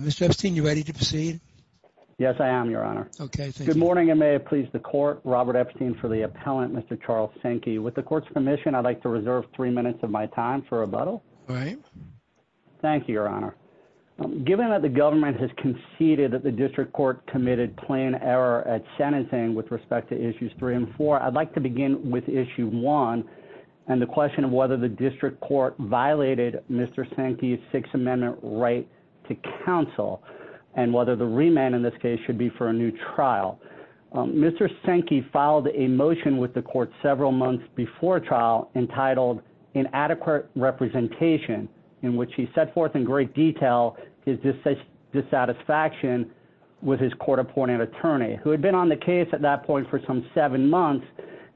Mr. Epstein, you ready to proceed? Yes, I am, Your Honor. Okay, thank you. Good morning, and may it please the Court, Robert Epstein for the appellant, Mr. Charles Senke. With the Court's permission, I'd like to reserve three minutes of my time for rebuttal. All right. Thank you, Your Honor. Given that the government has conceded that the district court committed plain error at sentencing with respect to issues three and four, I'd like to begin with issue one and the question whether the district court violated Mr. Senke's Sixth Amendment right to counsel and whether the remand in this case should be for a new trial. Mr. Senke filed a motion with the Court several months before trial entitled, Inadequate Representation, in which he set forth in great detail his dissatisfaction with his court-appointed attorney, who had been on the case at that point for some seven months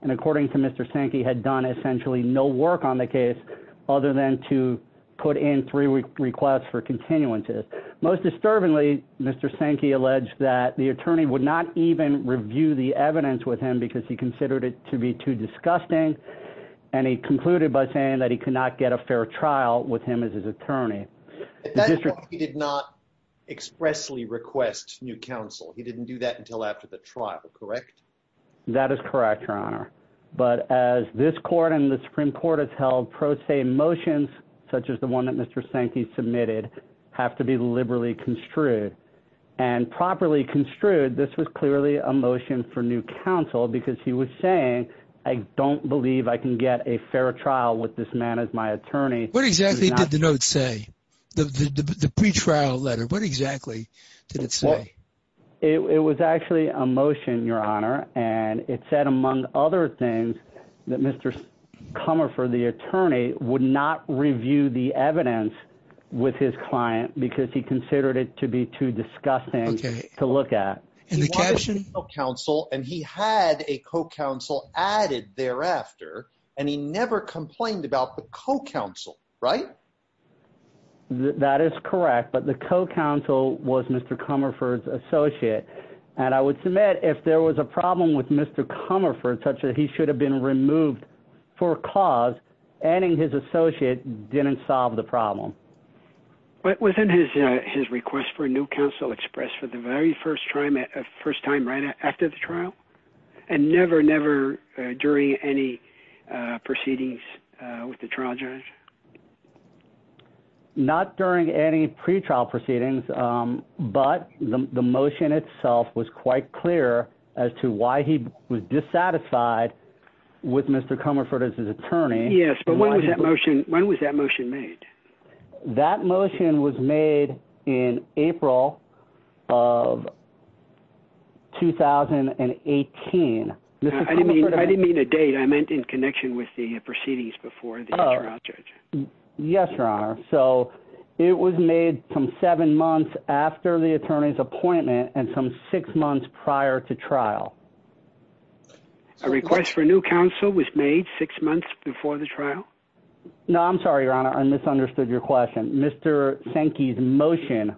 and, according to Mr. Senke, had done essentially no work on the case other than to put in three requests for continuances. Most disturbingly, Mr. Senke alleged that the attorney would not even review the evidence with him because he considered it to be too disgusting, and he concluded by saying that he could not get a fair trial with him as his attorney. At that point, he did not expressly request new counsel. He didn't do that until after the trial, correct? That is correct, Your Honor, but as this court and the Supreme Court has held pro se motions, such as the one that Mr. Senke submitted, have to be liberally construed, and properly construed, this was clearly a motion for new counsel because he was saying, I don't believe I can get a fair trial with this man as my attorney. What exactly did the note say, the motion, Your Honor? And it said, among other things, that Mr. Comerford, the attorney, would not review the evidence with his client because he considered it to be too disgusting to look at. He wanted new counsel, and he had a co-counsel added thereafter, and he never complained about the right? That is correct, but the co-counsel was Mr. Comerford's associate, and I would submit if there was a problem with Mr. Comerford, such that he should have been removed for a cause, adding his associate didn't solve the problem. But within his request for new counsel expressed for the very first time right after the trial, and never during any proceedings with the trial judge. Not during any pretrial proceedings, but the motion itself was quite clear as to why he was dissatisfied with Mr. Comerford as his attorney. Yes, but when was that motion, when was that motion made? That motion was made in April of 2018. I didn't mean a date, I meant in connection with the proceedings before the trial judge. Yes, your honor, so it was made some seven months after the attorney's appointment, and some six months prior to trial. A request for new counsel was made six months before the trial? No, I'm sorry, your honor, I misunderstood your question. Mr. Sankey's motion,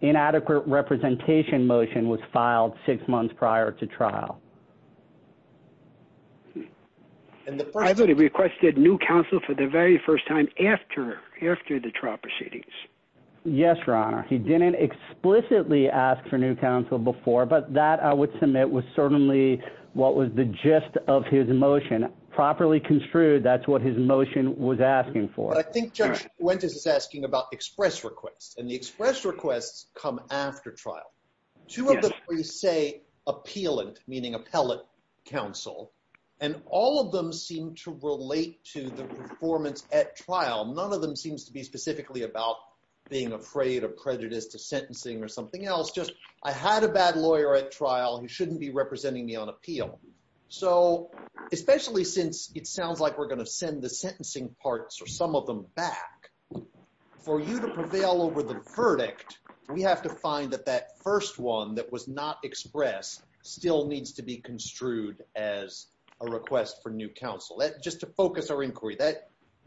inadequate representation motion, was filed six months prior to trial. I thought he requested new counsel for the very first time after the trial proceedings. Yes, your honor, he didn't explicitly ask for new counsel before, but that I would submit was certainly what was the gist of his motion. Properly construed, that's what his motion was asking for. I think Judge Fuentes is asking about express requests, and the express requests come after trial. Two of them say appealant, meaning appellate counsel, and all of them seem to relate to the performance at trial. None of them seems to be specifically about being afraid or prejudiced to sentencing or something else, just I had a bad lawyer at trial who shouldn't be representing me on appeal. So, especially since it sounds like we're going to send the have to find that that first one that was not expressed still needs to be construed as a request for new counsel. Just to focus our inquiry,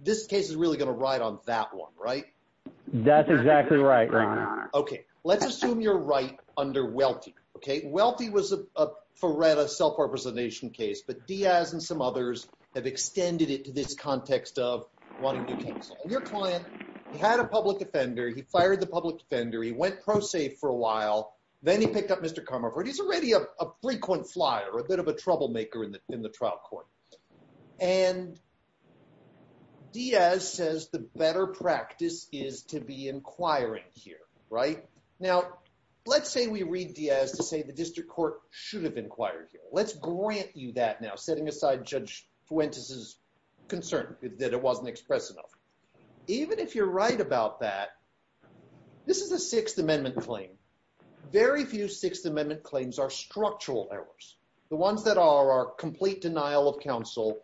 this case is really going to ride on that one, right? That's exactly right, your honor. Okay, let's assume you're right under Welty. Okay, Welty was a Faretta self-representation case, but Diaz and some others have extended it to this context of wanting new counsel. Your client, he had a public defender, he fired the public defender, he went pro-safe for a while, then he picked up Mr. Comerford. He's already a frequent flyer, a bit of a troublemaker in the trial court, and Diaz says the better practice is to be inquiring here, right? Now, let's say we read Diaz to say the district court should have inquired here. Let's grant you that now, setting aside Judge Fuentes' concern that it wasn't expressed enough. Even if you're right about that, this is a Sixth Amendment claim. Very few Sixth Amendment claims are structural errors. The ones that are are complete denial of counsel,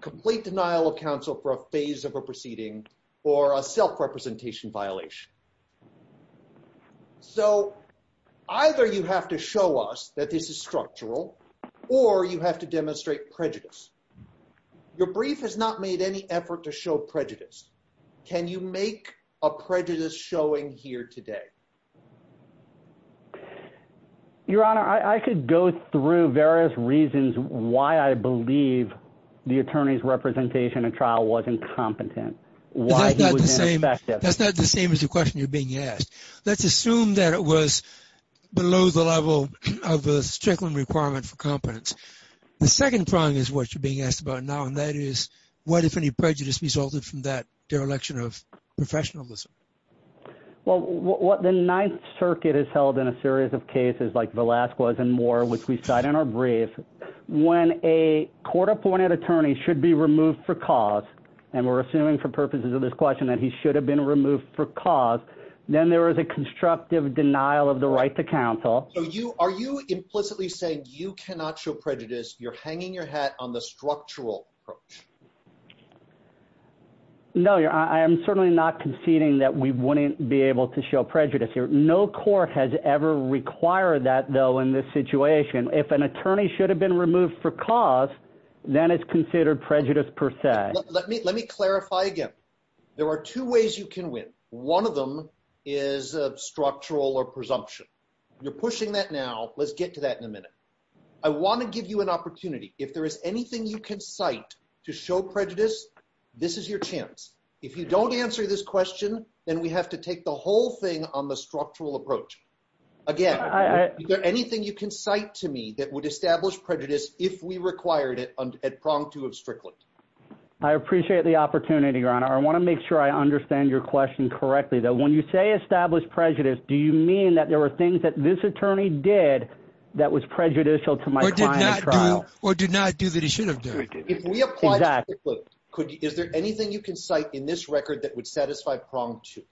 complete denial of counsel for a phase of a proceeding, or a self-representation violation. So, either you have to show us that this is structural, or you have to demonstrate prejudice. Your brief has not made any effort to show prejudice. Can you make a prejudice showing here today? Your Honor, I could go through various reasons why I believe the attorney's representation in trial wasn't competent, why he was ineffective. That's not the same as the question you're being asked. Let's assume that it was below the level of the Strickland requirement for competence. The second prong is what you're being asked about now, and that is, what if any prejudice resulted from that dereliction of professionalism? Well, what the Ninth Circuit has held in a series of cases like Velazquez and Moore, which we cite in our brief, when a court-appointed attorney should be removed for cause, and we're assuming for purposes of this question that he should have been removed for cause, then there is a constructive denial of the right to counsel. Are you implicitly saying you cannot show prejudice? You're hanging your hat on the structural approach? No, Your Honor. I am certainly not conceding that we wouldn't be able to show prejudice here. No court has ever required that, though, in this situation. If an attorney should have been removed for cause, then it's considered prejudice per se. Let me clarify again. There are two ways you can win. One of them is a structural or presumption. You're pushing that now. Let's get to that in a minute. I want to give you an opportunity. If there is anything you can cite to show prejudice, this is your chance. If you don't answer this question, then we have to take the whole thing on the structural approach. Again, is there anything you can cite to me that would establish prejudice if we required it at prong two of Strickland? I appreciate the opportunity, Your Honor. I want to make sure I understand your question correctly, though. When you say establish prejudice, do you mean that there were things that this attorney did that was prejudicial to my client's trial? Or did not do that he should have done? If we apply to Strickland, is there anything you can cite in this record that would satisfy prong two?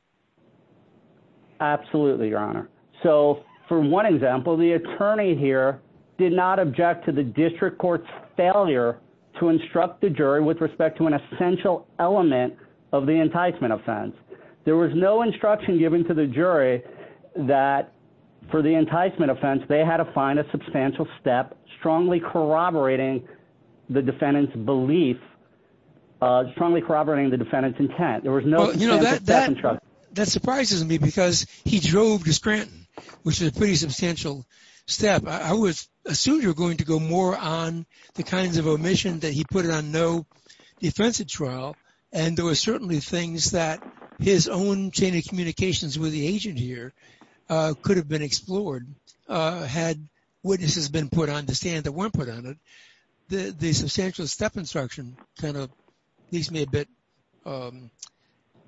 Absolutely, Your Honor. For one example, the attorney here did not object to the district court's failure to instruct the jury with respect to an essential element of the instruction. There was no instruction given to the jury that for the enticement offense, they had to find a substantial step strongly corroborating the defendant's belief, strongly corroborating the defendant's intent. That surprises me because he drove to Scranton, which is a pretty substantial step. I assumed you were going to go more on the kinds of omissions that he put it on no defensive trial. And there were certainly things that his own chain of communications with the agent here could have been explored had witnesses been put on the stand that weren't put on it. The substantial step instruction kind of leaves me a bit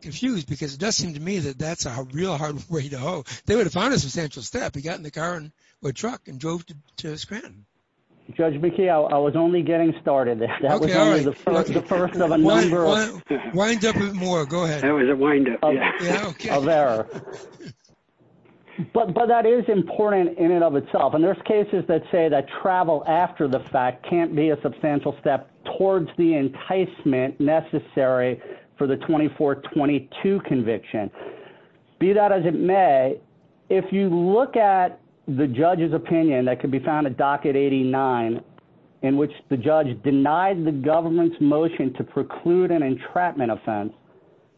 confused because it does seem to me that that's a real hard way to go. They would have found a substantial step. He got in the truck and drove to Scranton. Judge McKee, I was only getting started. That was the first of a number. Wind up with more. Go ahead. That was a wind up of error. But that is important in and of itself. And there's cases that say that travel after the fact can't be a substantial step towards the enticement necessary for the 2422 conviction. Be that as it may, if you look at the judge's opinion that could be found a docket 89 in which the judge denied the government's motion to preclude an entrapment offense,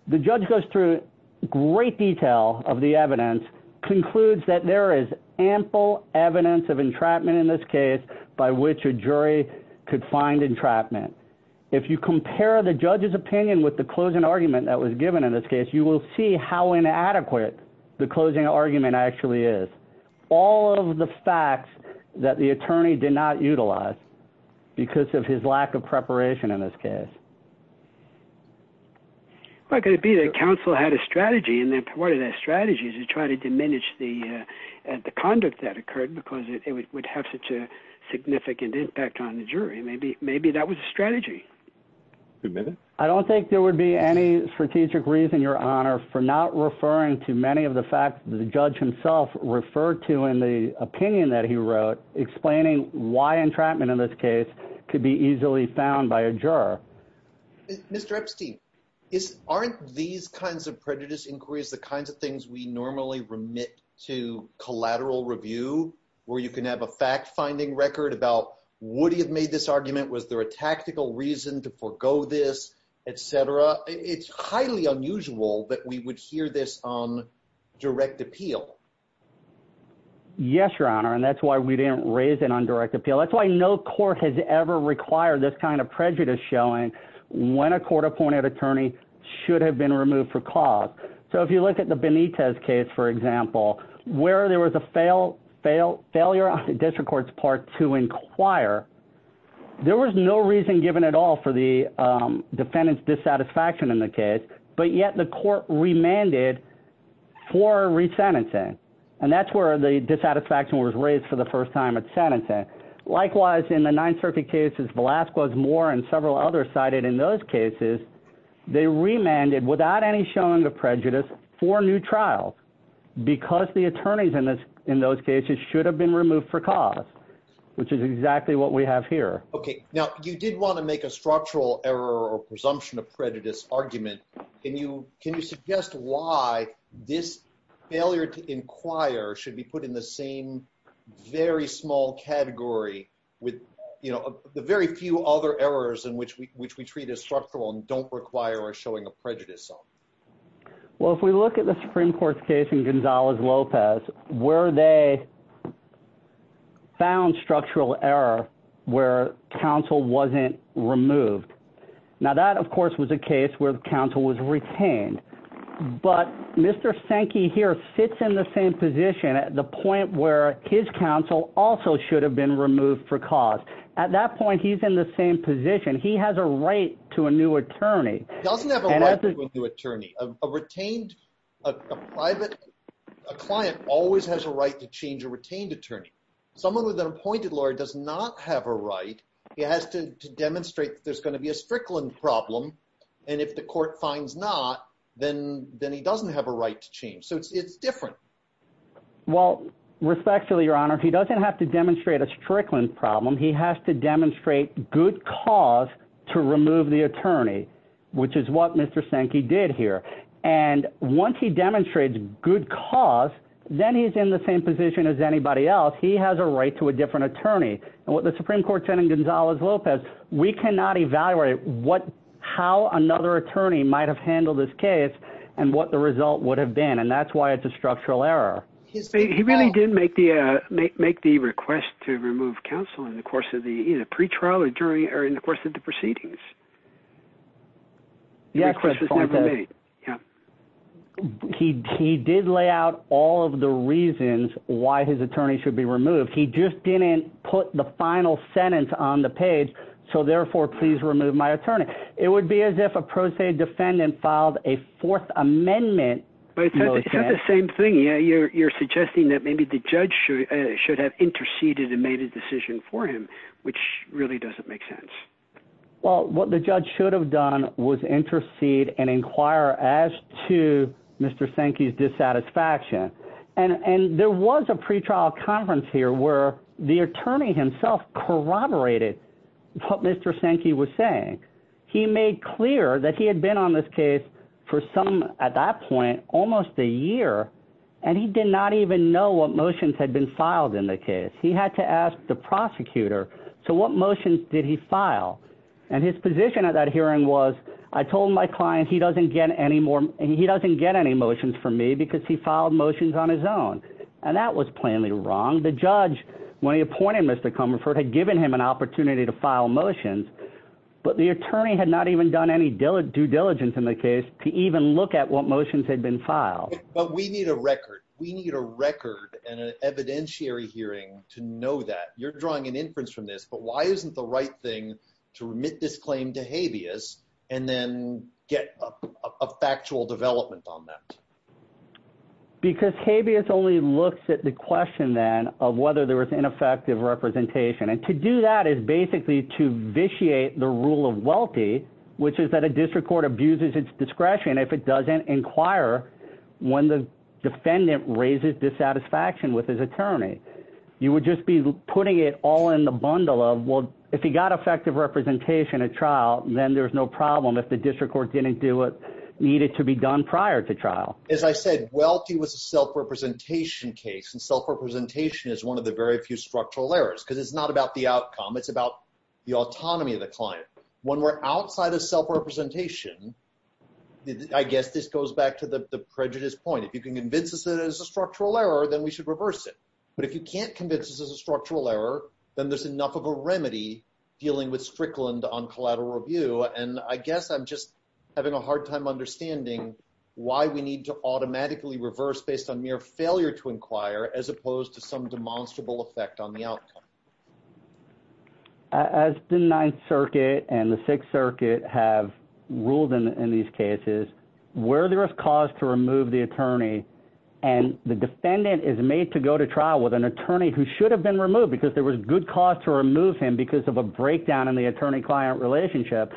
the judge goes through great detail of the evidence concludes that there is ample evidence of entrapment in this case by which a jury could find entrapment. If you compare the judge's opinion with the closing argument that was given in this case, you will see how inadequate the closing argument actually is. All of the facts that the attorney did not utilize because of his lack of preparation in this case. Why could it be that counsel had a strategy and then what are their strategies to try to diminish the the conduct that occurred because it would have such a significant impact on the jury? Maybe that was a strategy. I don't think there would be any strategic reason, Your Honor, for not referring to many of the facts that the judge himself referred to in the opinion that he wrote, explaining why entrapment in this case could be easily found by a juror. Mr. Epstein, aren't these kinds of prejudice inquiries the kinds of things we normally remit to collateral review, where you can have a fact finding record about would he have made this argument? Was there a tactical reason to forgo this, etc.? It's highly unusual that we would hear this on direct appeal. Yes, Your Honor, and that's why we didn't raise it on direct appeal. That's why no court has ever required this kind of prejudice showing when a court-appointed attorney should have been removed for cause. So if you look at the Benitez case, for example, where there was a failure on the district court's part to inquire, there was no reason given at all for the defendant's dissatisfaction in the case, but yet the court remanded for re-sentencing, and that's where the dissatisfaction was raised for the first time at sentencing. Likewise, in the Ninth Circuit cases, Velazquez, Moore, and several others cited in those cases, they remanded without any showing of prejudice for new trials because the attorneys in this those cases should have been removed for cause, which is exactly what we have here. Okay. Now, you did want to make a structural error or presumption of prejudice argument. Can you suggest why this failure to inquire should be put in the same very small category with the very few other errors in which we treat as structural and don't require a showing of prejudice? Well, if we look at the Supreme Court's case in Gonzalez-Lopez, where they found structural error where counsel wasn't removed. Now, that, of course, was a case where the counsel was retained, but Mr. Sankey here sits in the same position at the point where his counsel also should have been removed for cause. At that point, he's in the same position. He has a right to a new attorney. He doesn't have a right to a new attorney. A private client always has a right to change a retained attorney. Someone with an appointed lawyer does not have a right. He has to demonstrate that there's going to be a Strickland problem, and if the court finds not, then he doesn't have a right to change. So it's different. Well, respectfully, Your Honor, he doesn't have to demonstrate a Strickland problem. He has to once he demonstrates good cause, then he's in the same position as anybody else. He has a right to a different attorney. And what the Supreme Court said in Gonzalez-Lopez, we cannot evaluate how another attorney might have handled this case and what the result would have been, and that's why it's a structural error. He really did make the request to remove counsel in the course of the jury or in the course of the proceedings. He did lay out all of the reasons why his attorney should be removed. He just didn't put the final sentence on the page. So therefore, please remove my attorney. It would be as if a pro se defendant filed a fourth amendment. But it's not the same thing. You're suggesting that maybe the judge should have interceded and made a decision for him, which really doesn't make sense. Well, what the judge should have done was intercede and inquire as to Mr. Sankey's dissatisfaction. And there was a pretrial conference here where the attorney himself corroborated what Mr. Sankey was saying. He made clear that he had been on this case for some, at that point, almost a year, and he did not even know what motions had been filed in the case. He had to ask the prosecutor, so what motions did he file? And his position at that hearing was, I told my client he doesn't get any more, he doesn't get any motions from me because he filed motions on his own. And that was plainly wrong. The judge, when he appointed Mr. Comerford, had given him an opportunity to file motions, but the attorney had not even done any due diligence in the case to even look at what motions had been filed. But we need a record. We need a record and an evidentiary hearing to know that you're drawing an inference from this, but why isn't the right thing to remit this claim to habeas and then get a factual development on that? Because habeas only looks at the question then of whether there was ineffective representation. And to do that is basically to vitiate the rule of wealthy, which is that a district court abuses its discretion if it doesn't inquire when the defendant raises dissatisfaction with his attorney. You would just be putting it all in the bundle of, well, if he got effective representation at trial, then there's no problem if the district court didn't do what needed to be done prior to trial. As I said, wealthy was a self-representation case, and self-representation is one of the very few structural errors, because it's not about the outcome. It's about the autonomy of the client. When we're outside of self-representation, I guess this goes back to the prejudice point. If you can convince us that it's a structural error, then we should reverse it. But if you can't convince us it's a structural error, then there's enough of a remedy dealing with Strickland on collateral review. And I guess I'm just having a hard time understanding why we need to automatically reverse based on mere failure to inquire as opposed to some demonstrable effect on the outcome. As the Ninth Circuit and the Sixth Circuit have ruled in these cases, where there is cause to remove the attorney and the defendant is made to go to trial with an attorney who should have been removed because there was good cause to remove him because of a breakdown in the attorney-client relationship,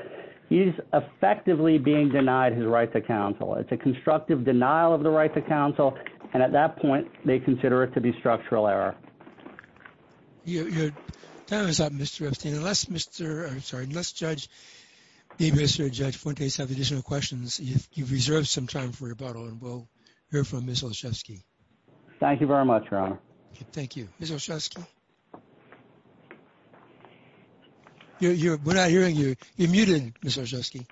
he's effectively being denied his right to counsel. It's a constructive denial of the right to counsel, and at that point, they consider it to be structural error. Your time is up, Mr. Epstein. Unless Judge Fuentes has additional questions, you've reserved some time for rebuttal, and we'll hear from Ms. Olszewski. Thank you very much, Your Honor. Thank you. Ms. Olszewski? We're not hearing you. You're muted, Ms. Olszewski.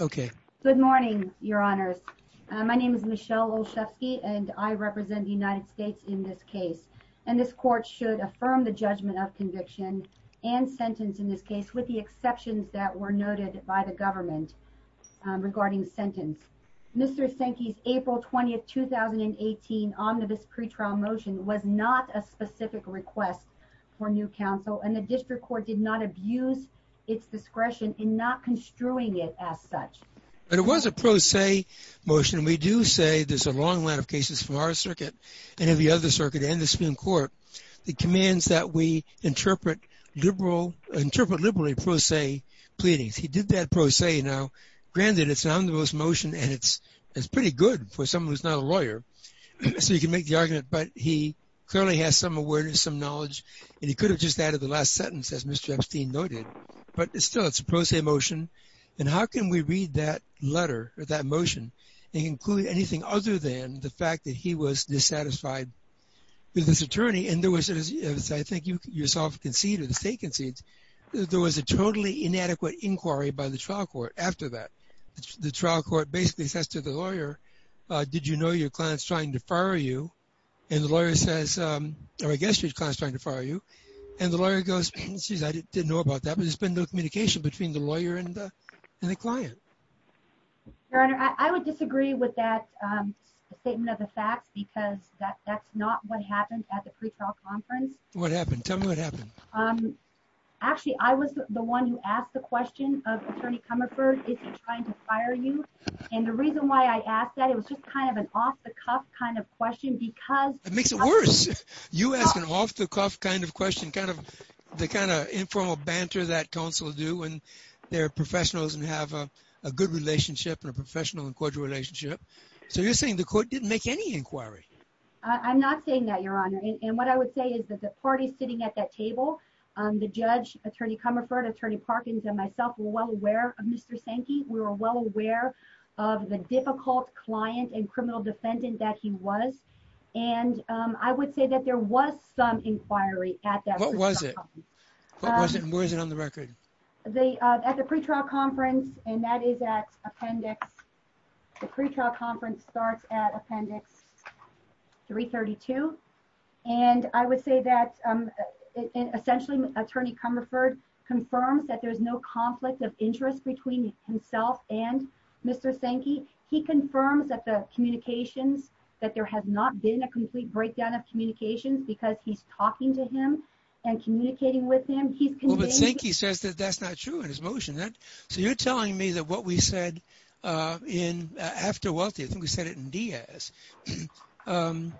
Okay. Good morning, Your Honors. My name is Michelle Olszewski, and I represent the United States in this case, and this Court should affirm the judgment of conviction and sentence in this case with the exceptions that were noted by the government regarding sentence. Mr. Sinke's April 20, 2018, omnibus pretrial motion was not a specific request for new counsel, and the District Court did not abuse its discretion in not construing it as such. But it was a pro se motion, and we do say there's a long line of cases from our circuit, and every other circuit, and the Supreme Court, that commands that we interpret liberally pro se pleadings. He did that pro se. Now, granted, it's an omnibus motion, and it's pretty good for someone who's not a lawyer, so you can make the argument, but he clearly has some awareness, some knowledge, and he could have just added the last sentence, as Mr. Epstein noted. But still, it's a pro se motion, and how can we read that letter, or that motion, and include anything other than the fact that he was dissatisfied with his attorney? And there was, as I think you yourself conceded, the State concedes, there was a totally inadequate inquiry by the trial court after that. The trial court basically says to the lawyer, did you know your client's trying to fire you? And the lawyer says, or I guess your client's trying to fire you, and the lawyer goes, geez, I didn't know about that, but there's been no communication between the lawyer and the client. Your Honor, I would disagree with that statement of the facts, because that's not what happened at the pretrial conference. What happened? Tell me what happened. Actually, I was the one who asked the question of Attorney Comerford, is he trying to fire you? And the reason why I asked that, it was just kind of an off-the-cuff kind of question, because... It makes it worse. You ask an off-the-cuff kind of question, the kind of informal banter that they're professionals and have a good relationship and a professional and cordial relationship. So you're saying the court didn't make any inquiry? I'm not saying that, Your Honor, and what I would say is that the party sitting at that table, the judge, Attorney Comerford, Attorney Parkins, and myself were well aware of Mr. Sankey. We were well aware of the difficult client and criminal defendant that he was, and I would say that there was some inquiry at that. What was it? Where is it on the record? At the pretrial conference, and that is at appendix... The pretrial conference starts at appendix 332, and I would say that essentially, Attorney Comerford confirms that there's no conflict of interest between himself and Mr. Sankey. He confirms that the communications, that there has not been a complete breakdown of communications because he's talking to him and communicating with him. Well, but Sankey says that that's not true in his motion. So you're telling me that what we said after Welty, I think we said it in Diaz, and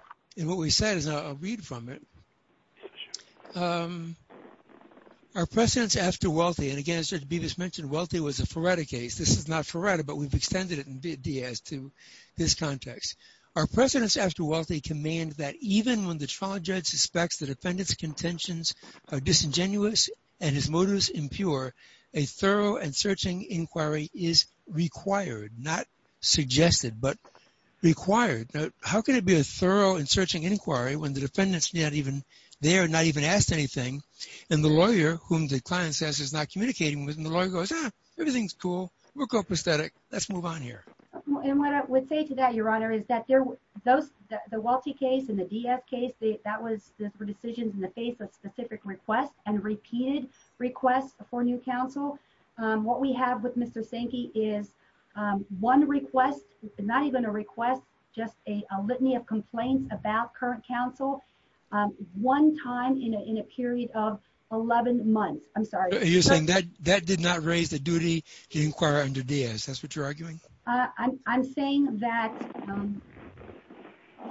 what we said is... I'll read from it. Our precedents after Welty, and again, as Judge Bevis mentioned, Welty was a Ferretta case. This is not Ferretta, but we've extended it in Diaz to this context. Our precedents after Welty command that even when the trial judge suspects the defendant's contentions are disingenuous and his motives impure, a thorough and searching inquiry is required, not suggested, but required. How can it be a thorough and searching inquiry when the defendant's not even there, not even asked anything, and the lawyer, whom the client says is not communicating with, and the lawyer goes, everything's cool. We're coprosthetic. Let's move on here. And what I would say to that, Your Honor, is that the Welty case and the Diaz case, that was decisions in the face of specific requests and repeated requests for new counsel. What we have with Mr. Sankey is one request, not even a request, just a litany of complaints about current counsel, one time in a period of 11 months. I'm sorry. You're saying that that did not raise the duty to inquire under Diaz. That's what you're arguing.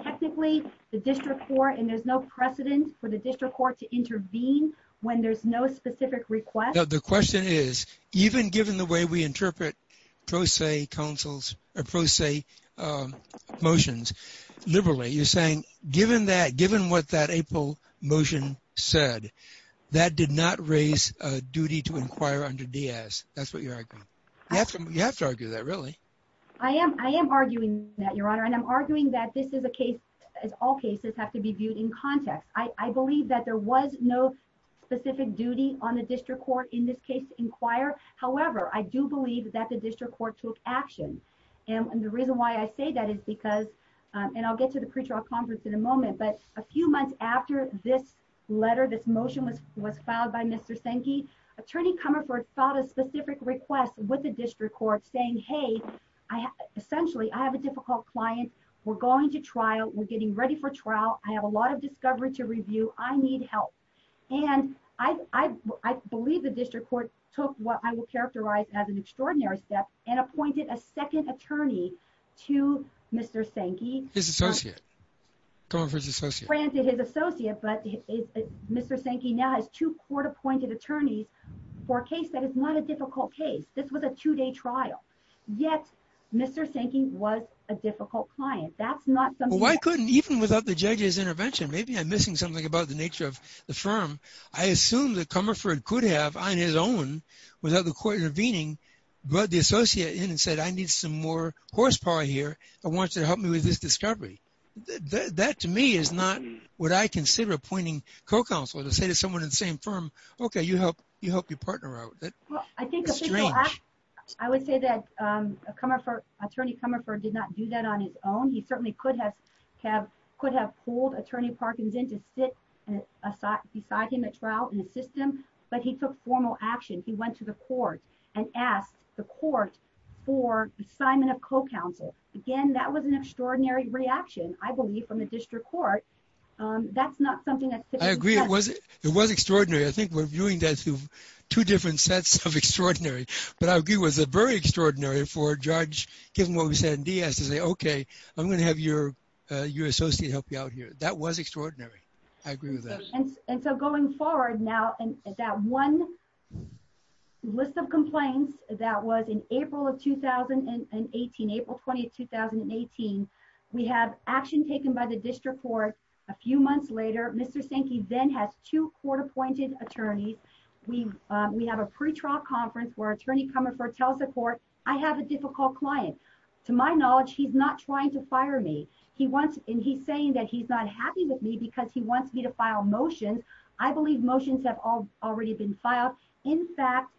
Technically, the district court, and there's no precedent for the district court to intervene when there's no specific request. The question is, even given the way we interpret pro se motions liberally, you're saying, given what that April motion said, that did not raise a duty to inquire under Diaz. That's what you're arguing. You have to argue that, really. I am. I am arguing that, Your Honor. And I'm arguing that this is a case, as all cases have to be viewed in context. I believe that there was no specific duty on the district court in this case to inquire. However, I do believe that the district court took action. And the reason why I say that is because, and I'll get to the pre-trial conference in a moment, but a few months after this letter, this motion was filed by Mr. Sankey, Attorney Comerford filed a specific request with the district court saying, hey, essentially, I have a difficult client. We're going to trial. We're getting ready for trial. I have a lot of discovery to review. I need help. And I believe the district court took what I will characterize as an extraordinary step and appointed a second attorney to Mr. Sankey. His associate. Comerford's associate. Granted, his associate, but Mr. Sankey now has two court-appointed attorneys for a case that is not a difficult case. This was a two-day trial. Yet, Mr. Sankey was a difficult client. That's not something- Well, why couldn't, even without the judge's intervention, maybe I'm missing something about the nature of the firm. I assume that Comerford could have, on his own, without the court intervening, brought the associate in and said, I need some more horsepower here. I want you to help me with this discovery. That, to me, is not what I consider appointing a co-counselor. To say to someone in the same firm, okay, you helped your partner out. I would say that attorney Comerford did not do that on his own. He certainly could have pulled attorney Parkins in to sit beside him at trial and assist him, but he took formal action. He went to the court and asked the court for assignment of co-counsel. Again, that was an extraordinary. I think we're viewing that through two different sets of extraordinary, but I agree it was very extraordinary for a judge, given what we said in Diaz, to say, okay, I'm going to have your associate help you out here. That was extraordinary. I agree with that. Going forward now, that one list of complaints that was in April 2018, April 20, 2018, we have action taken by the district court. A few months later, Mr. Sankey then has two court-appointed attorneys. We have a pre-trial conference where attorney Comerford tells the court, I have a difficult client. To my knowledge, he's not trying to fire me. He wants, and he's saying that he's not happy with me because he wants me to file motions. I believe motions have already been filed. In fact,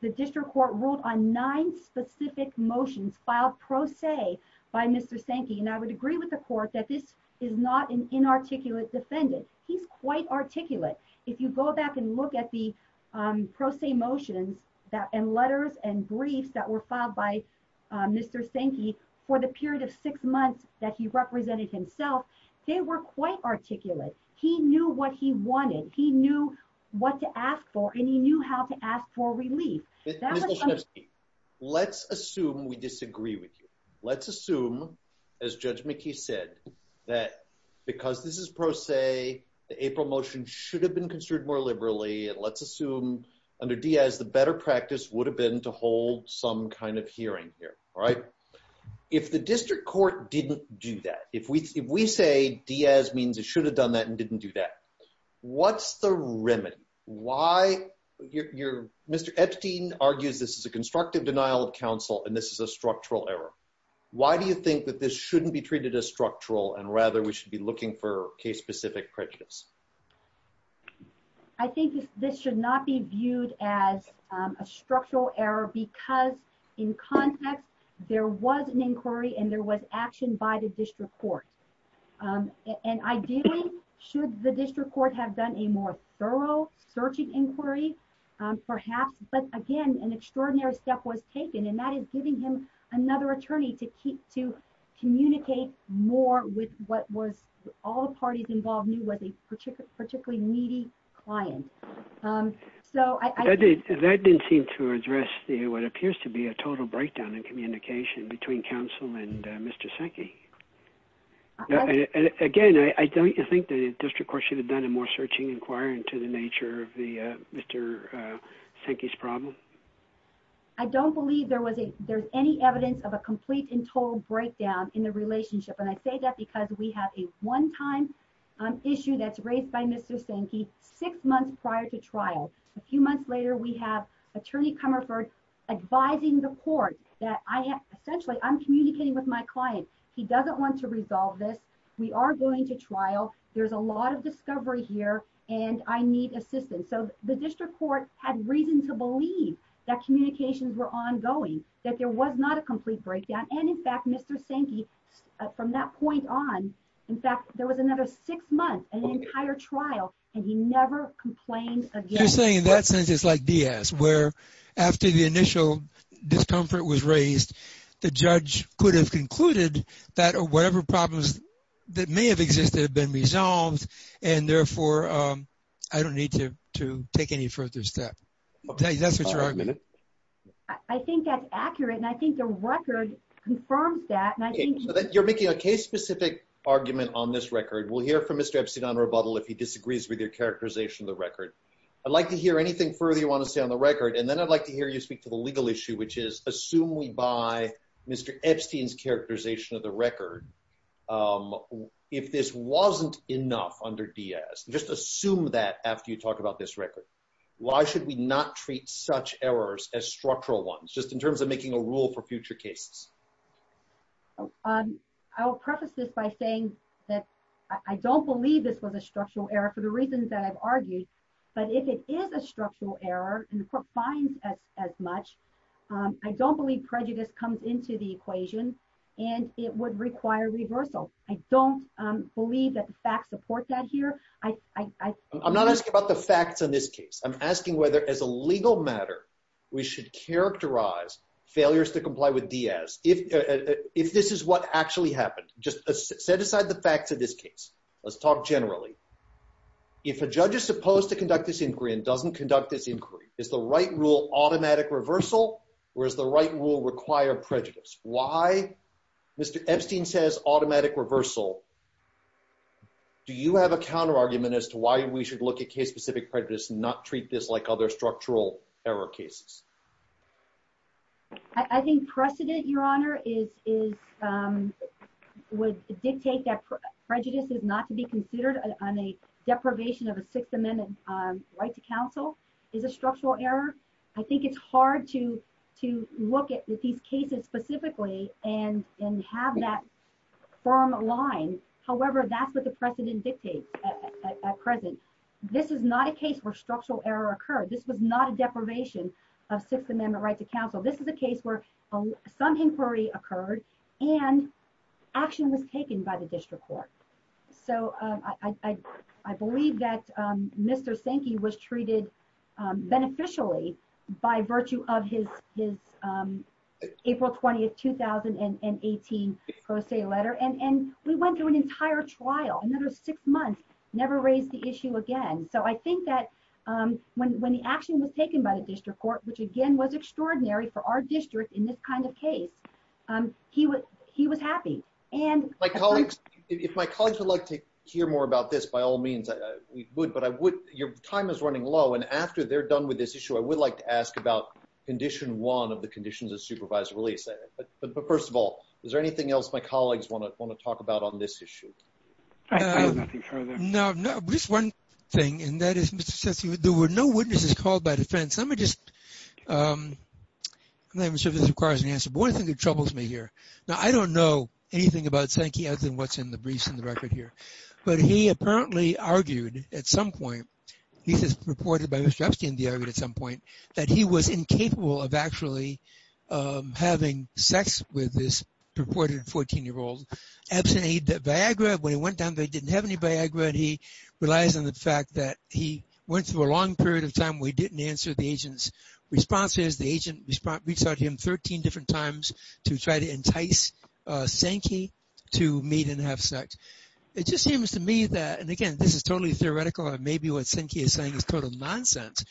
the district court ruled on nine specific motions filed pro se by Mr. Sankey. I would agree with the court that this is not an inarticulate defendant. He's quite articulate. If you go back and look at the pro se motions and letters and briefs that were filed by Mr. Sankey for the period of six months that he represented himself, they were quite articulate. He knew what he wanted. He knew what to ask for, and he knew how to ask for relief. Let's assume we disagree with you. Let's assume, as Judge McKee said, that because this is pro se, the April motion should have been construed more liberally. Let's assume under Diaz, the better practice would have been to hold some kind of hearing here. If the district court didn't do that, if we say Diaz means it should have done that and didn't do that, what's the remedy? Mr. Epstein argues this is a constructive denial of counsel and this is a structural error. Why do you think that this shouldn't be treated as structural and rather we should be looking for case-specific prejudice? I think this should not be viewed as a structural error because in context, there was an inquiry and there was action by the district court. Ideally, should the district court have done a more thorough searching inquiry? Perhaps, but again, an extraordinary step was taken and that is giving him another attorney to communicate more with what all the parties involved knew was a particularly needy client. That didn't seem to address what appears to be a total breakdown in communication between counsel and Mr. Senke. Again, I think the district court should have done a more searching inquiry into the nature of Mr. Senke's problem. I don't believe there was any evidence of a complete and total breakdown in the relationship and I say that because we have a one-time issue that's raised by Mr. Senke six months prior to trial. A few months later, we have attorney Comerford advising the court that essentially, I'm communicating with my client. He doesn't want to resolve this. We are going to trial. There's a lot of discovery here and I need assistance. So, the district court had reason to believe that communications were ongoing, that there was not a complete breakdown and in fact, Mr. Senke from that point on, in fact, there was another six months, an entire trial and he never complained again. You're saying in that sense, it's like DS where after the initial discomfort was raised, the judge could have concluded that or whatever problems that may have existed have been resolved and therefore, I don't need to take any further step. That's what you're arguing. I think that's accurate and I think the record confirms that. You're making a case-specific argument on this record. We'll hear from Mr. Epstein on rebuttal if he disagrees with your characterization of the record. I'd like to hear anything further you want to say on the record and then I'd like to hear you speak to the legal issue, which is assume we buy Mr. Epstein's characterization of the record. If this wasn't enough under DS, just assume that after you talk about this record. Why should we not treat such errors as structural ones, just in terms of making a rule for future cases? I'll preface this by saying that I don't believe this was a structural error for the reasons that I've argued, but if it is a structural error and the court finds as much, I don't believe prejudice comes into the equation and it would require reversal. I don't believe that the facts support that here. I'm not asking about the facts in this case. I'm asking whether as a legal matter, we should characterize failures to comply with DS. If this is what actually happened, just set aside the facts of this case. Let's talk generally. If a judge is supposed to conduct this inquiry and doesn't conduct this inquiry, is the right rule automatic reversal or does the right rule require prejudice? Why, Mr. Epstein says, automatic reversal. Do you have a counter argument as to why we should look at case-specific prejudice and not treat this like other structural error cases? I think precedent, Your Honor, would dictate that prejudice is not to be considered on a deprivation of a Sixth Amendment right to counsel is a structural error. I think it's hard to look at these cases specifically and have that firm line. However, that's what the precedent dictates at present. This is not a case where structural error occurred. This was not a deprivation of Sixth Amendment right to counsel. This is a case where some inquiry occurred and action was taken by the district court. I believe that Mr. Sinke was treated beneficially by virtue of his April 20, 2018, pro se letter. We went through an entire trial, another six months, never raised the issue again. I think that when the action was taken by the district court, which again was extraordinary for our district in this kind of case, he was happy. If my colleagues would like to hear more about this, by all means, we would. Your time is running low. After they're done with this issue, I would like to ask about condition one of the conditions of supervised release. First of all, is there anything else my colleagues want to talk about on this issue? I have nothing further. No. Just one thing, and that is, there were no witnesses called by defense. I'm not even sure if this requires an answer, but one thing that troubles me here. Now, I don't know anything about Sinke other than what's in the briefs and the record here, but he apparently argued at some point, he says purported by Mr. Epstein at some point, that he was incapable of actually having sex with this purported 14-year-old absent a Viagra. When he went down, they didn't have any Viagra. He relies on the fact that he went through a long period of time where he didn't answer the agent's responses. The agent reached out to him 13 different times to try to entice Sinke to meet and have sex. It just seems to me that, and again, this is totally theoretical, and maybe what Sinke is saying is total nonsense,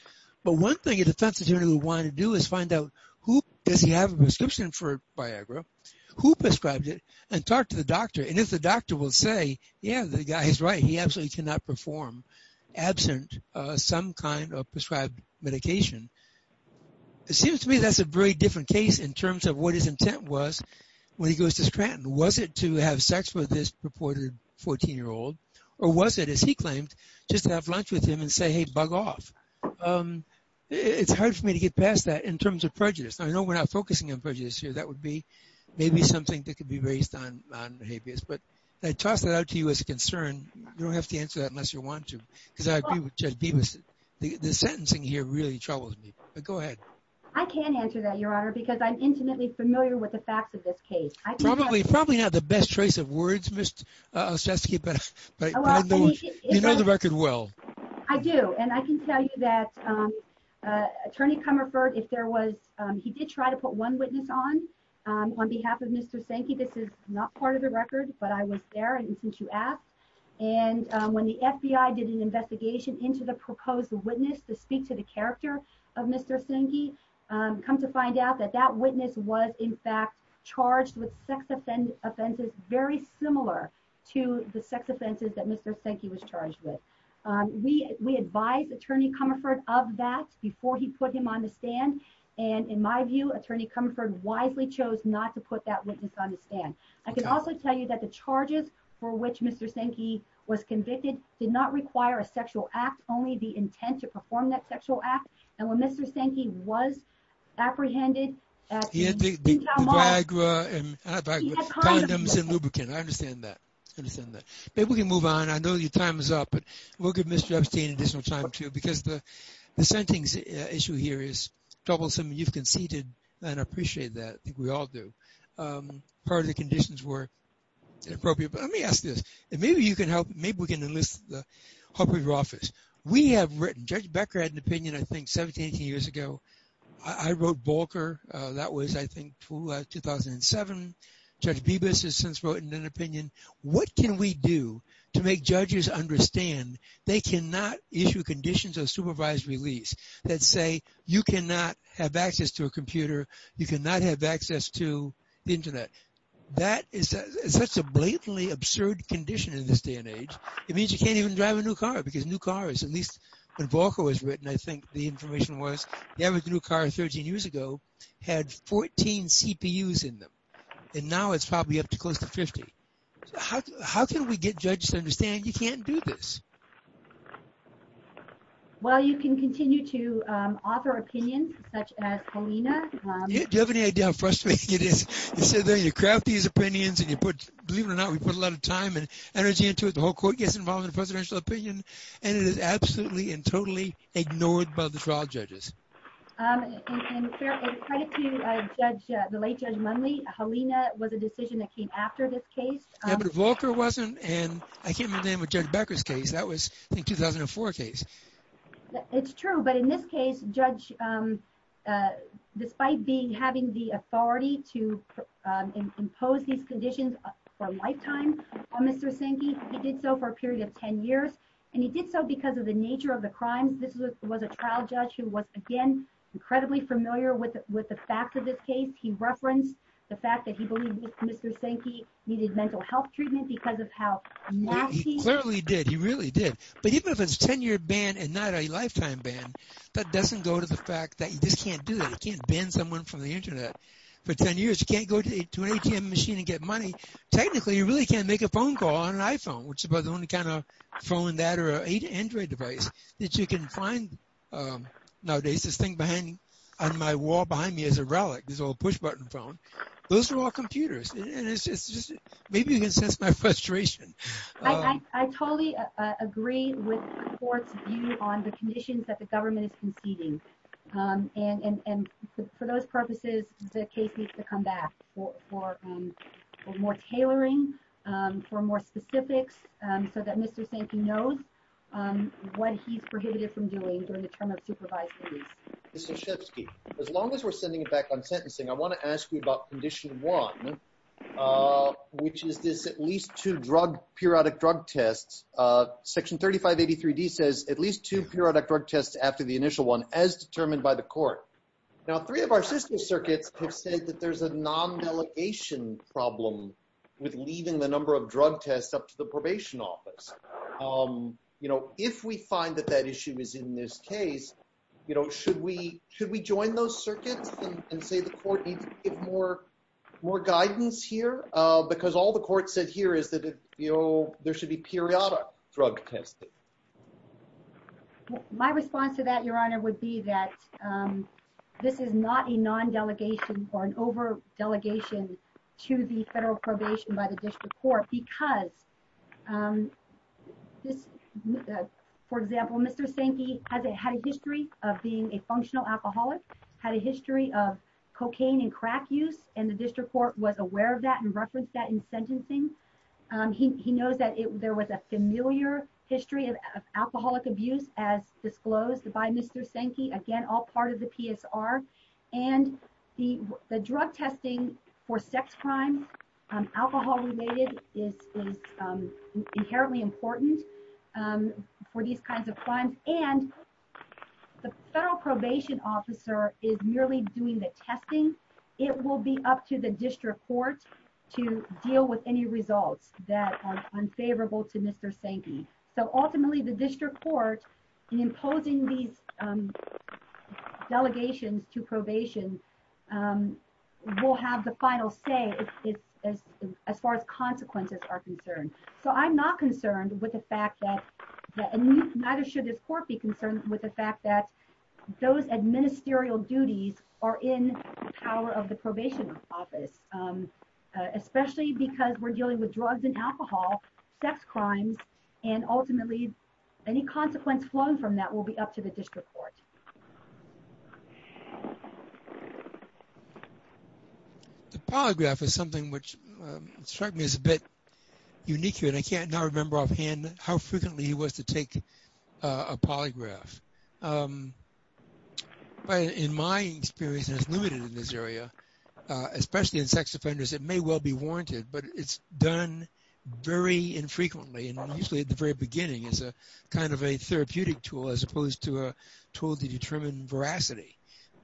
but one thing a defense attorney would want to do is find out who does he have a prescription for Viagra, who prescribed it, and talk to the doctor, and if the doctor will say, yeah, the guy is right. He absolutely cannot perform absent some kind of prescribed medication. It seems to me that's a very different case in terms of what his intent was when he goes to Scranton. Was it to have sex with this purported 14-year-old, or was it, as he claimed, just to have lunch with him and say, hey, bug off? It's hard for me to get past that in terms of prejudice. I know we're not focusing on prejudice here. That would be maybe something that could be based on habeas, but I toss that out to you as a concern. You don't have to answer that unless you want to, because the sentencing here really troubles me, but go ahead. I can't answer that, Your Honor, because I'm intimately familiar with the facts of this case. Probably not the best choice of words, Ms. Olszewski, but you know the record well. I do, and I can tell you that Attorney Comerford, if there was, he did try to put one witness on behalf of Mr. Sinke. This is not part of the record, but I was there, and since you asked, and when the FBI did an investigation into the proposed witness to speak to the character of Mr. Sinke, come to find out that that witness was, in fact, charged with sex offenses very similar to the sex offenses that Mr. Sinke was charged with. We advised Attorney Comerford of that before he put him on the stand, and in my view, Attorney Comerford wisely chose not to put that witness on the stand. I can also tell you that the charges for which Mr. Sinke was convicted did not require a sexual act, only the intent to perform that sexual act, and when Mr. Sinke was apprehended, he had condoms and lubricant. I understand that. Maybe we can move on. I know your time is up, but we'll give Mr. Epstein additional time, too, because the sentencing issue here is troublesome, and you've conceded, and I appreciate that. I think we all do. Part of the conditions were inappropriate, but let me ask this, and maybe you can help, maybe we can enlist the help of your office. We have written, Judge Becker had an opinion, I think, 17, 18 years ago. I wrote Balker. That was, I think, 2007. Judge Bibas has since written an opinion. What can we do to make judges understand they cannot issue conditions of supervised release that say you cannot have access to a computer, you cannot have access to the internet? That is such a blatantly absurd condition in this day and age. It means you can't even drive a new car, because new cars, at least when Balker was written, I think the information was, the average new car 13 years ago had 14 CPUs in them, and now it's probably up to close to 50. How can we get judges to understand you can't do this? Well, you can continue to offer opinions, such as Helena. Do you have any idea how frustrating it is? You sit there, you craft these opinions, and you put, believe it or not, we put a lot of time and energy into it. The whole court gets involved in the presidential opinion, and it is Helena was a decision that came after this case. Yeah, but Balker wasn't, and I came in with Judge Becker's case. That was, I think, 2004 case. It's true, but in this case, Judge, despite being, having the authority to impose these conditions for a lifetime on Mr. Sinke, he did so for a period of 10 years, and he did so because of the nature of the crimes. This was a trial judge who was, again, incredibly familiar with the fact of this case. He referenced the fact that he believed Mr. Sinke needed mental health treatment because of how nasty... He clearly did, he really did, but even if it's a 10-year ban and not a lifetime ban, that doesn't go to the fact that you just can't do that. You can't ban someone from the internet for 10 years. You can't go to an ATM machine and get money. Technically, you really can't make a phone call on an iPhone, which is about the only kind of phone that or an Android device that you can find nowadays. This thing on my wall behind me is a relic, this old push-button phone. Those are all computers, and it's just, maybe you can sense my frustration. I totally agree with the court's view on the conditions that the government is conceding, and for those purposes, the case needs to come back for more tailoring, for more specifics, so that Mr. Sinke knows what he's prohibited from doing during the term of supervised release. Mr. Shefsky, as long as we're sending it back on sentencing, I want to ask you about condition one, which is this at least two periodic drug tests. Section 3583D says at least two periodic drug tests after the initial one, as determined by the court. Now, three of our system circuits have said that there's a non-delegation problem with leaving the number of drug tests up to the probation office. If we find that that issue is in this case, should we join those circuits and say the court needs to give more guidance here? Because all the court said here is that there should be periodic drug testing. My response to that, Your Honor, would be that this is not a non-delegation or an over-delegation to the federal probation by the district court because this, for example, Mr. Sinke had a history of being a functional alcoholic, had a history of cocaine and crack use, and the district court was aware of that and referenced that in sentencing. He knows that there was a familiar history of alcoholic abuse as disclosed by Mr. Sinke, again, all part of the PSR. And the drug testing for sex crimes, alcohol-related, is inherently important for these kinds of crimes. And the federal probation officer is merely doing the testing. It will be up to the district court to deal with any results that are unfavorable to Mr. Sinke. So, ultimately, the district court, in imposing these delegations to probation, will have the final say as far as consequences are concerned. So, I'm not concerned with the fact that, and neither should this court be concerned with the fact that those administerial duties are in the power of the probation office, especially because we're dealing with drugs and ultimately any consequence flowing from that will be up to the district court. The polygraph is something which struck me as a bit unique here, and I can't now remember offhand how frequently he was to take a polygraph. But in my experience, and it's limited in this area, especially in sex offenders, it may well be warranted, but it's done very infrequently, and usually at the very beginning as a kind of a therapeutic tool as opposed to a tool to determine veracity.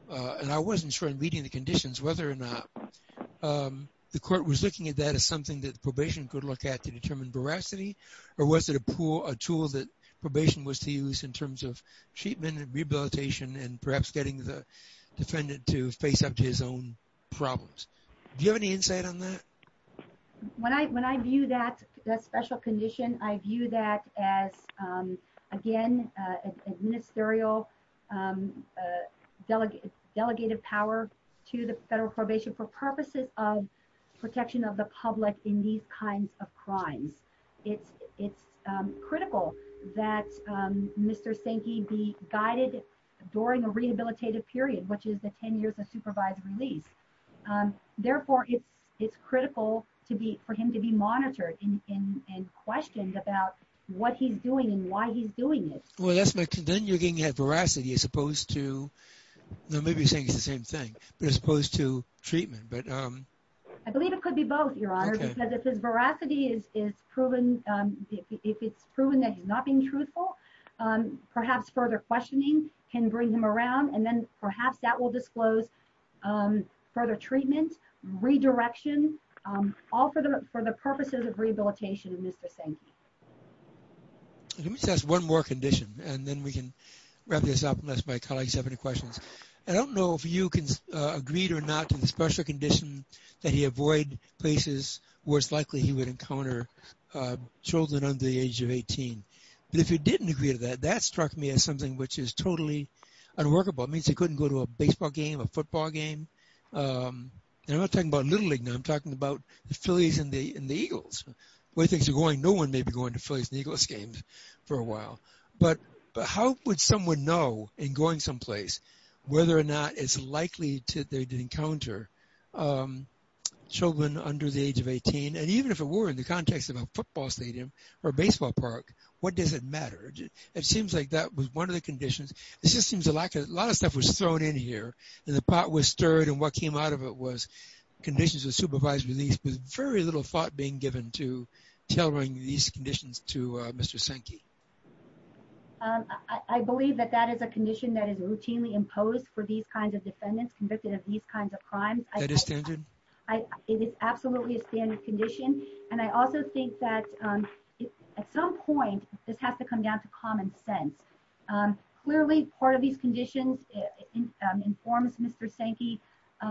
And I wasn't sure in reading the conditions whether or not the court was looking at that as something that probation could look at to determine veracity, or was it a tool that probation was to use in terms of treatment and rehabilitation and perhaps getting the defendant to face up to his own problems. Do you have any insight on that? When I view that special condition, I view that as, again, administerial delegated power to the federal probation for purposes of protection of the public in these kinds of crimes. It's critical that Mr. Sankey be guided during a release. Therefore, it's critical for him to be monitored and questioned about what he's doing and why he's doing it. Well, then you're getting at veracity as opposed to, well, maybe you're saying it's the same thing, but as opposed to treatment. I believe it could be both, Your Honor, because if his veracity is proven, if it's proven that he's not being truthful, perhaps further questioning can bring him around, and then perhaps that will disclose further treatment, redirection, all for the purposes of rehabilitation of Mr. Sankey. Let me just ask one more condition, and then we can wrap this up unless my colleagues have any questions. I don't know if you agreed or not to the special condition that he avoid places where it's likely he would encounter children under the age of 18, but if you didn't agree to that, that struck me as something which is totally unworkable. It means he couldn't go to a baseball game, a football game. I'm not talking about Little League now. I'm talking about the Phillies and the Eagles. Where things are going, no one may be going to Phillies and Eagles games for a while, but how would someone know in going someplace whether or not it's likely to encounter children under the age of 18? And even if it were in the context of a football stadium or a baseball park, what does it matter? It seems like that was one of the conditions. It just seems a lot of stuff was thrown in here, and the pot was stirred, and what came out of it was conditions of supervised release with very little thought being given to tailoring these conditions to Mr. Sankey. I believe that that is a condition that is routinely imposed for these kinds of defendants convicted of these kinds of crimes. That is standard? It is absolutely a condition, and I also think that at some point, this has to come down to common sense. Clearly, part of these conditions informs Mr. Sankey.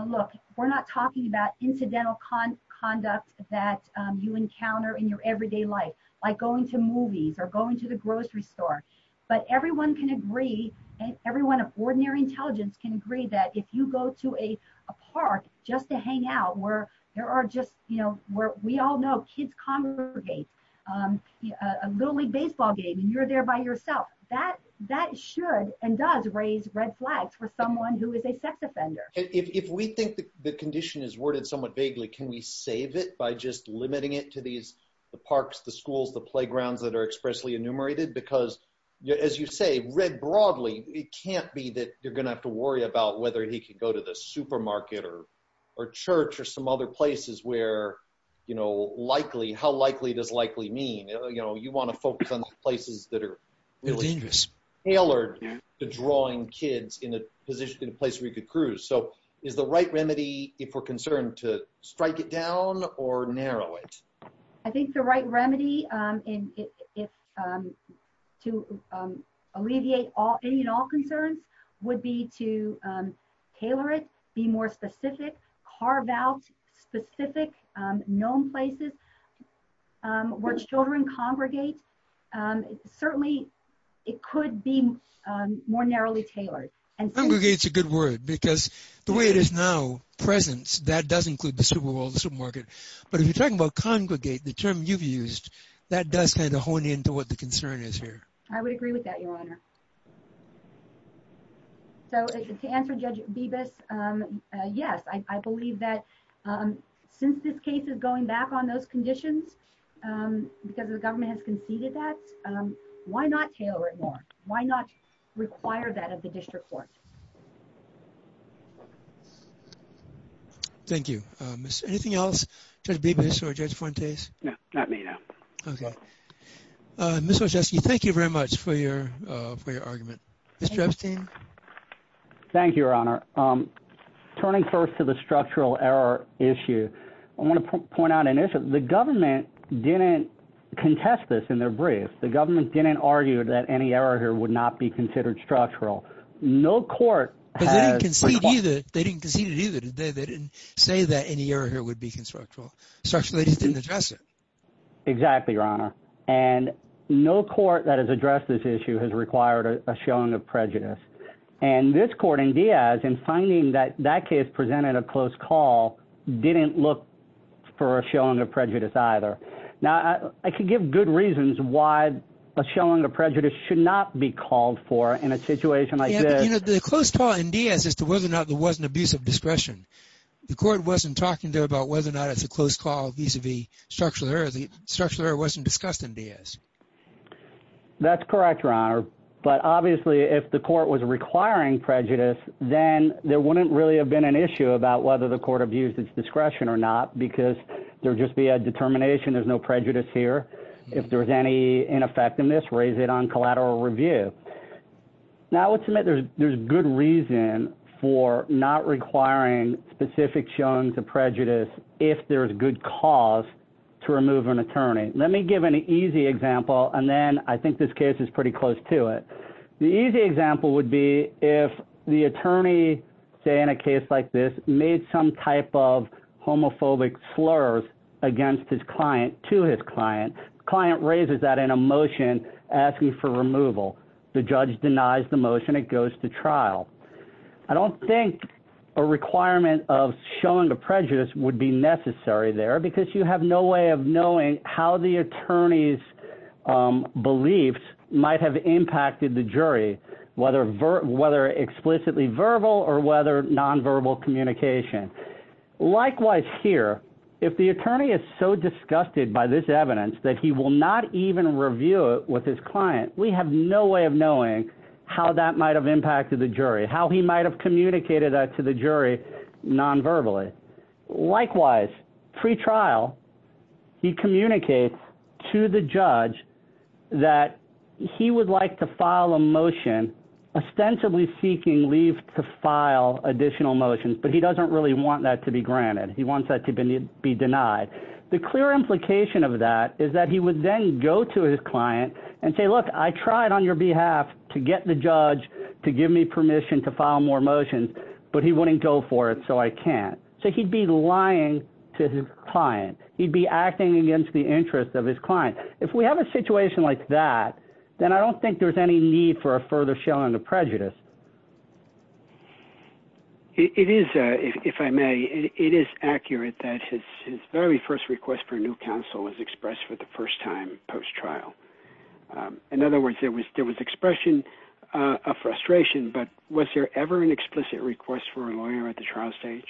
Look, we're not talking about incidental conduct that you encounter in your everyday life, like going to movies or going to the grocery store, but everyone can agree, everyone of ordinary intelligence can agree that if you go to a we all know kids congregate, a little league baseball game, and you're there by yourself, that should and does raise red flags for someone who is a sex offender. If we think the condition is worded somewhat vaguely, can we save it by just limiting it to the parks, the schools, the playgrounds that are expressly enumerated? Because as you say, read broadly, it can't be that you're going to have to worry about whether he could go to the supermarket or church or some other places where likely, how likely does likely mean? You want to focus on the places that are really tailored to drawing kids in a position, in a place where you could cruise. So is the right remedy, if we're concerned, to strike it down or narrow it? I think the right remedy to alleviate any and all concerns would be to tailor it, be more specific, carve out specific known places where children congregate. Certainly it could be more narrowly tailored. Congregate is a good word because the way it is now, presence, that does include the that does kind of hone into what the concern is here. I would agree with that, Your Honor. So to answer Judge Bibas, yes, I believe that since this case is going back on those conditions, because the government has conceded that, why not tailor it more? Why not require that of the district court? Thank you. Anything else, Judge Bibas or Judge Fuentes? No, not me, no. Okay. Ms. Wojcicki, thank you very much for your argument. Mr. Epstein? Thank you, Your Honor. Turning first to the structural error issue, I want to point out initially, the government didn't contest this in their brief. The government didn't argue that any structural. They didn't concede it either. They didn't say that any error here would be constructural. Structurally, they just didn't address it. Exactly, Your Honor. And no court that has addressed this issue has required a showing of prejudice. And this court in Diaz, in finding that that case presented a close call, didn't look for a showing of prejudice either. Now, I can give good reasons why a showing of prejudice should not be called for in a situation like this. You know, the close call in Diaz as to whether or not there was an abuse of discretion. The court wasn't talking there about whether or not it's a close call vis-a-vis structural error. The structural error wasn't discussed in Diaz. That's correct, Your Honor. But obviously, if the court was requiring prejudice, then there wouldn't really have been an issue about whether the court abused its discretion or not, because there would just be a determination. There's no prejudice here. If there was any ineffectiveness, raise it on collateral review. Now, I would submit there's good reason for not requiring specific showing of prejudice if there's good cause to remove an attorney. Let me give an easy example, and then I think this case is pretty close to it. The easy example would be if the attorney, say, in a case like this, made some type of homophobic slurs against his client, to his client. The client raises that in a motion asking for removal. The judge denies the motion. It goes to trial. I don't think a requirement of showing of prejudice would be necessary there, because you have no way of knowing how the impact of the jury, whether explicitly verbal or whether nonverbal communication. Likewise here, if the attorney is so disgusted by this evidence that he will not even review it with his client, we have no way of knowing how that might have impacted the jury, how he might have communicated that to the jury nonverbally. Likewise, pre-trial, he communicates to the judge that he would like to file a motion ostensibly seeking leave to file additional motions, but he doesn't really want that to be granted. He wants that to be denied. The clear implication of that is that he would then go to his client and say, look, I tried on your behalf to get the judge to give me permission to file more motions, but he wouldn't go for it, so I can't. So he'd be like that, then I don't think there's any need for a further showing of prejudice. It is, if I may, it is accurate that his very first request for new counsel was expressed for the first time post-trial. In other words, there was expression of frustration, but was there ever an explicit request for a lawyer at the trial stage?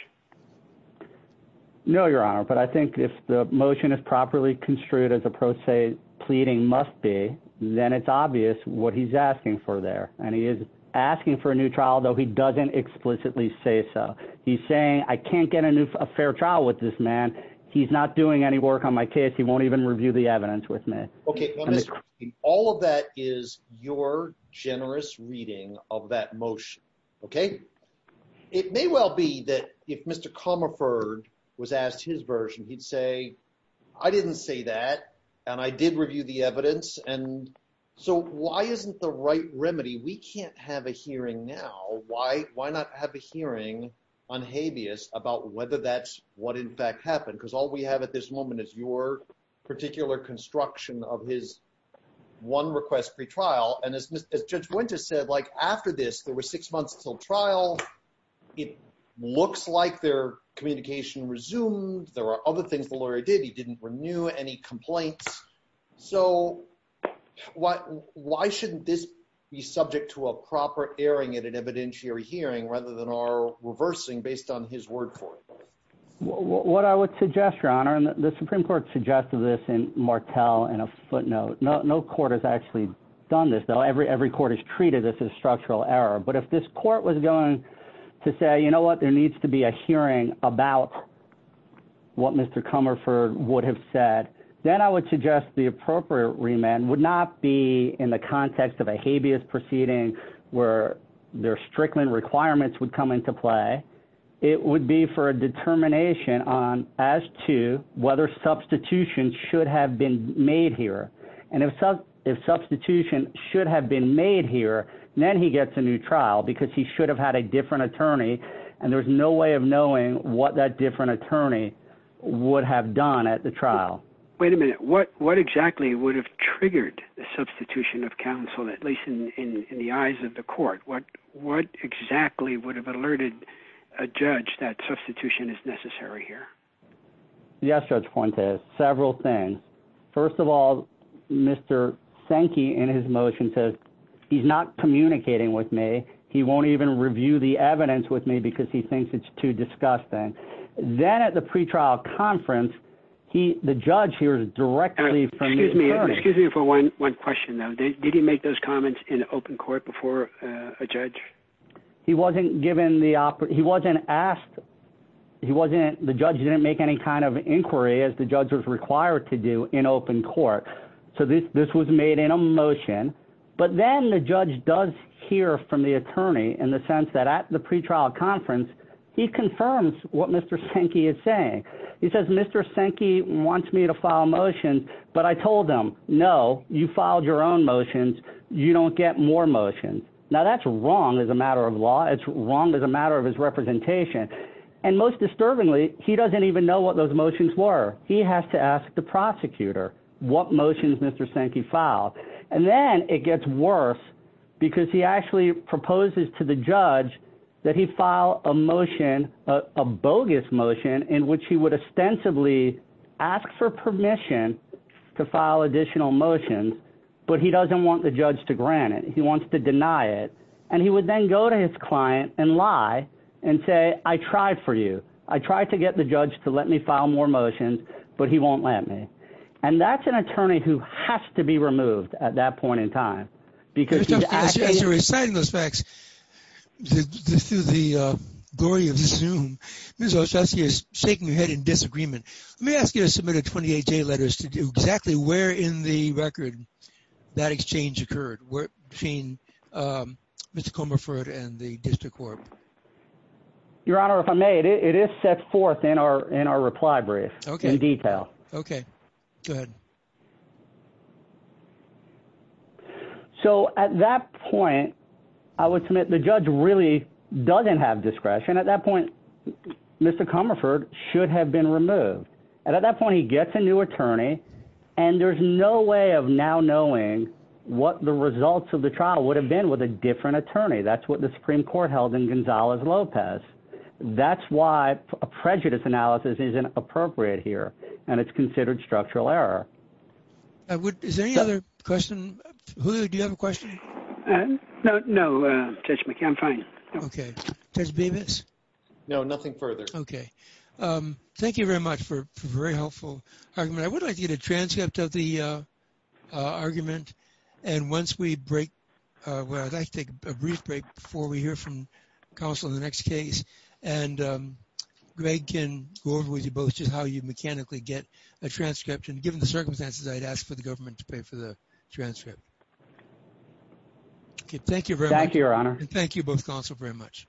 No, Your Honor, but I think if the motion is properly construed as a pro se pleading must be, then it's obvious what he's asking for there. And he is asking for a new trial, though he doesn't explicitly say so. He's saying, I can't get a new, a fair trial with this man. He's not doing any work on my case. He won't even review the evidence with me. Okay. All of that is your generous reading of that motion. Okay. It may well be that if Mr. Comerford was asked his version, he'd say, I didn't say that. And I did review the evidence. And so why isn't the right remedy? We can't have a hearing now. Why not have a hearing on habeas about whether that's what in fact happened? Because all we have at this moment is your particular construction of his one request pre-trial. And as Judge Winters said, like after this, there were six months until trial. It looks like their communication resumed. There are other things the lawyer did. He didn't renew any complaints. So why shouldn't this be subject to a proper airing at an evidentiary hearing rather than our reversing based on his word for it? What I would suggest, Your Honor, the Supreme Court suggested this in Martel in a footnote. No court has actually done this, though. Every court has treated this as structural error. But if this court was going to say, you know what, there needs to be a hearing about what Mr. Comerford would have said, then I would suggest the appropriate remand would not be in the context of a habeas proceeding where their Strickland requirements would come into play. It would be for a determination on as to whether substitution should have been made here. And if substitution should have been made here, then he gets a new trial because he should have had a different attorney. And there's no way of knowing what that different attorney would have done at the trial. Wait a minute. What exactly would have triggered the substitution of counsel, at least in the eyes of the court? What exactly would have alerted a judge that substitution is necessary here? Yes, Judge Fuentes, several things. First of all, Mr. Sankey, in his motion, says he's not communicating with me. He won't even review the evidence with me because he thinks it's too disgusting. Then at the pretrial conference, the judge hears directly from the attorney. Excuse me for one question, though. Did he make those comments in open court before a judge? He wasn't given the he wasn't asked. He wasn't. The judge didn't make any kind of inquiry as the judge was required to do in open court. So this this was made in a motion. But then the judge does hear from the attorney in the sense that at the pretrial conference, he confirms what Mr. Sankey is saying. He says, Mr. Sankey wants me to file a motion. But I told him, no, you filed your own motions. You don't get more motions. Now, that's wrong as a matter of law. It's wrong as a matter of his representation. And most disturbingly, he doesn't even know what those motions were. He has to ask the prosecutor what motions Mr. Sankey filed. And then it gets worse because he actually proposes to the judge that he file a motion, a bogus motion in which he would ostensibly ask for permission to file additional motions. But he doesn't want the judge to grant it. He wants to deny it. And he would then go to his client and lie and say, I tried for you. I tried to get the judge to let me file more motions, but he won't let me. And that's an attorney who has to be removed at that point in time. As you're reciting those facts, through the glory of Zoom, Ms. Olszewski is shaking her head in disagreement. Let me ask you to submit a 28-J letters to do exactly where in the record that exchange occurred between Mr. Comerford and the district court. Your Honor, if I may, it is set forth in our reply brief in detail. Okay. Go ahead. So at that point, I would submit the judge really doesn't have discretion. At that point, Mr. Comerford should have been removed. And at that point, he gets a new attorney. And there's no way of now knowing what the results of the trial would have been with a different attorney. That's what the Supreme Court held in Gonzalez-Lopez. That's why a prejudice analysis isn't appropriate here. And it's considered structural error. Is there any other question? Julio, do you have a question? No, Judge McKeon, I'm fine. Okay. Judge Bevis? No, nothing further. Okay. Thank you very much for a very helpful argument. I would like to get a transcript of the argument. And once we break, well, I'd like to take a brief break before we hear from counsel in the next case. And Greg can go over with you both just how you mechanically get a transcript. And given the circumstances, I'd ask for the government to pay for the transcript. Okay. Thank you very much. Thank you, Your Honor. And thank you both, counsel, very much.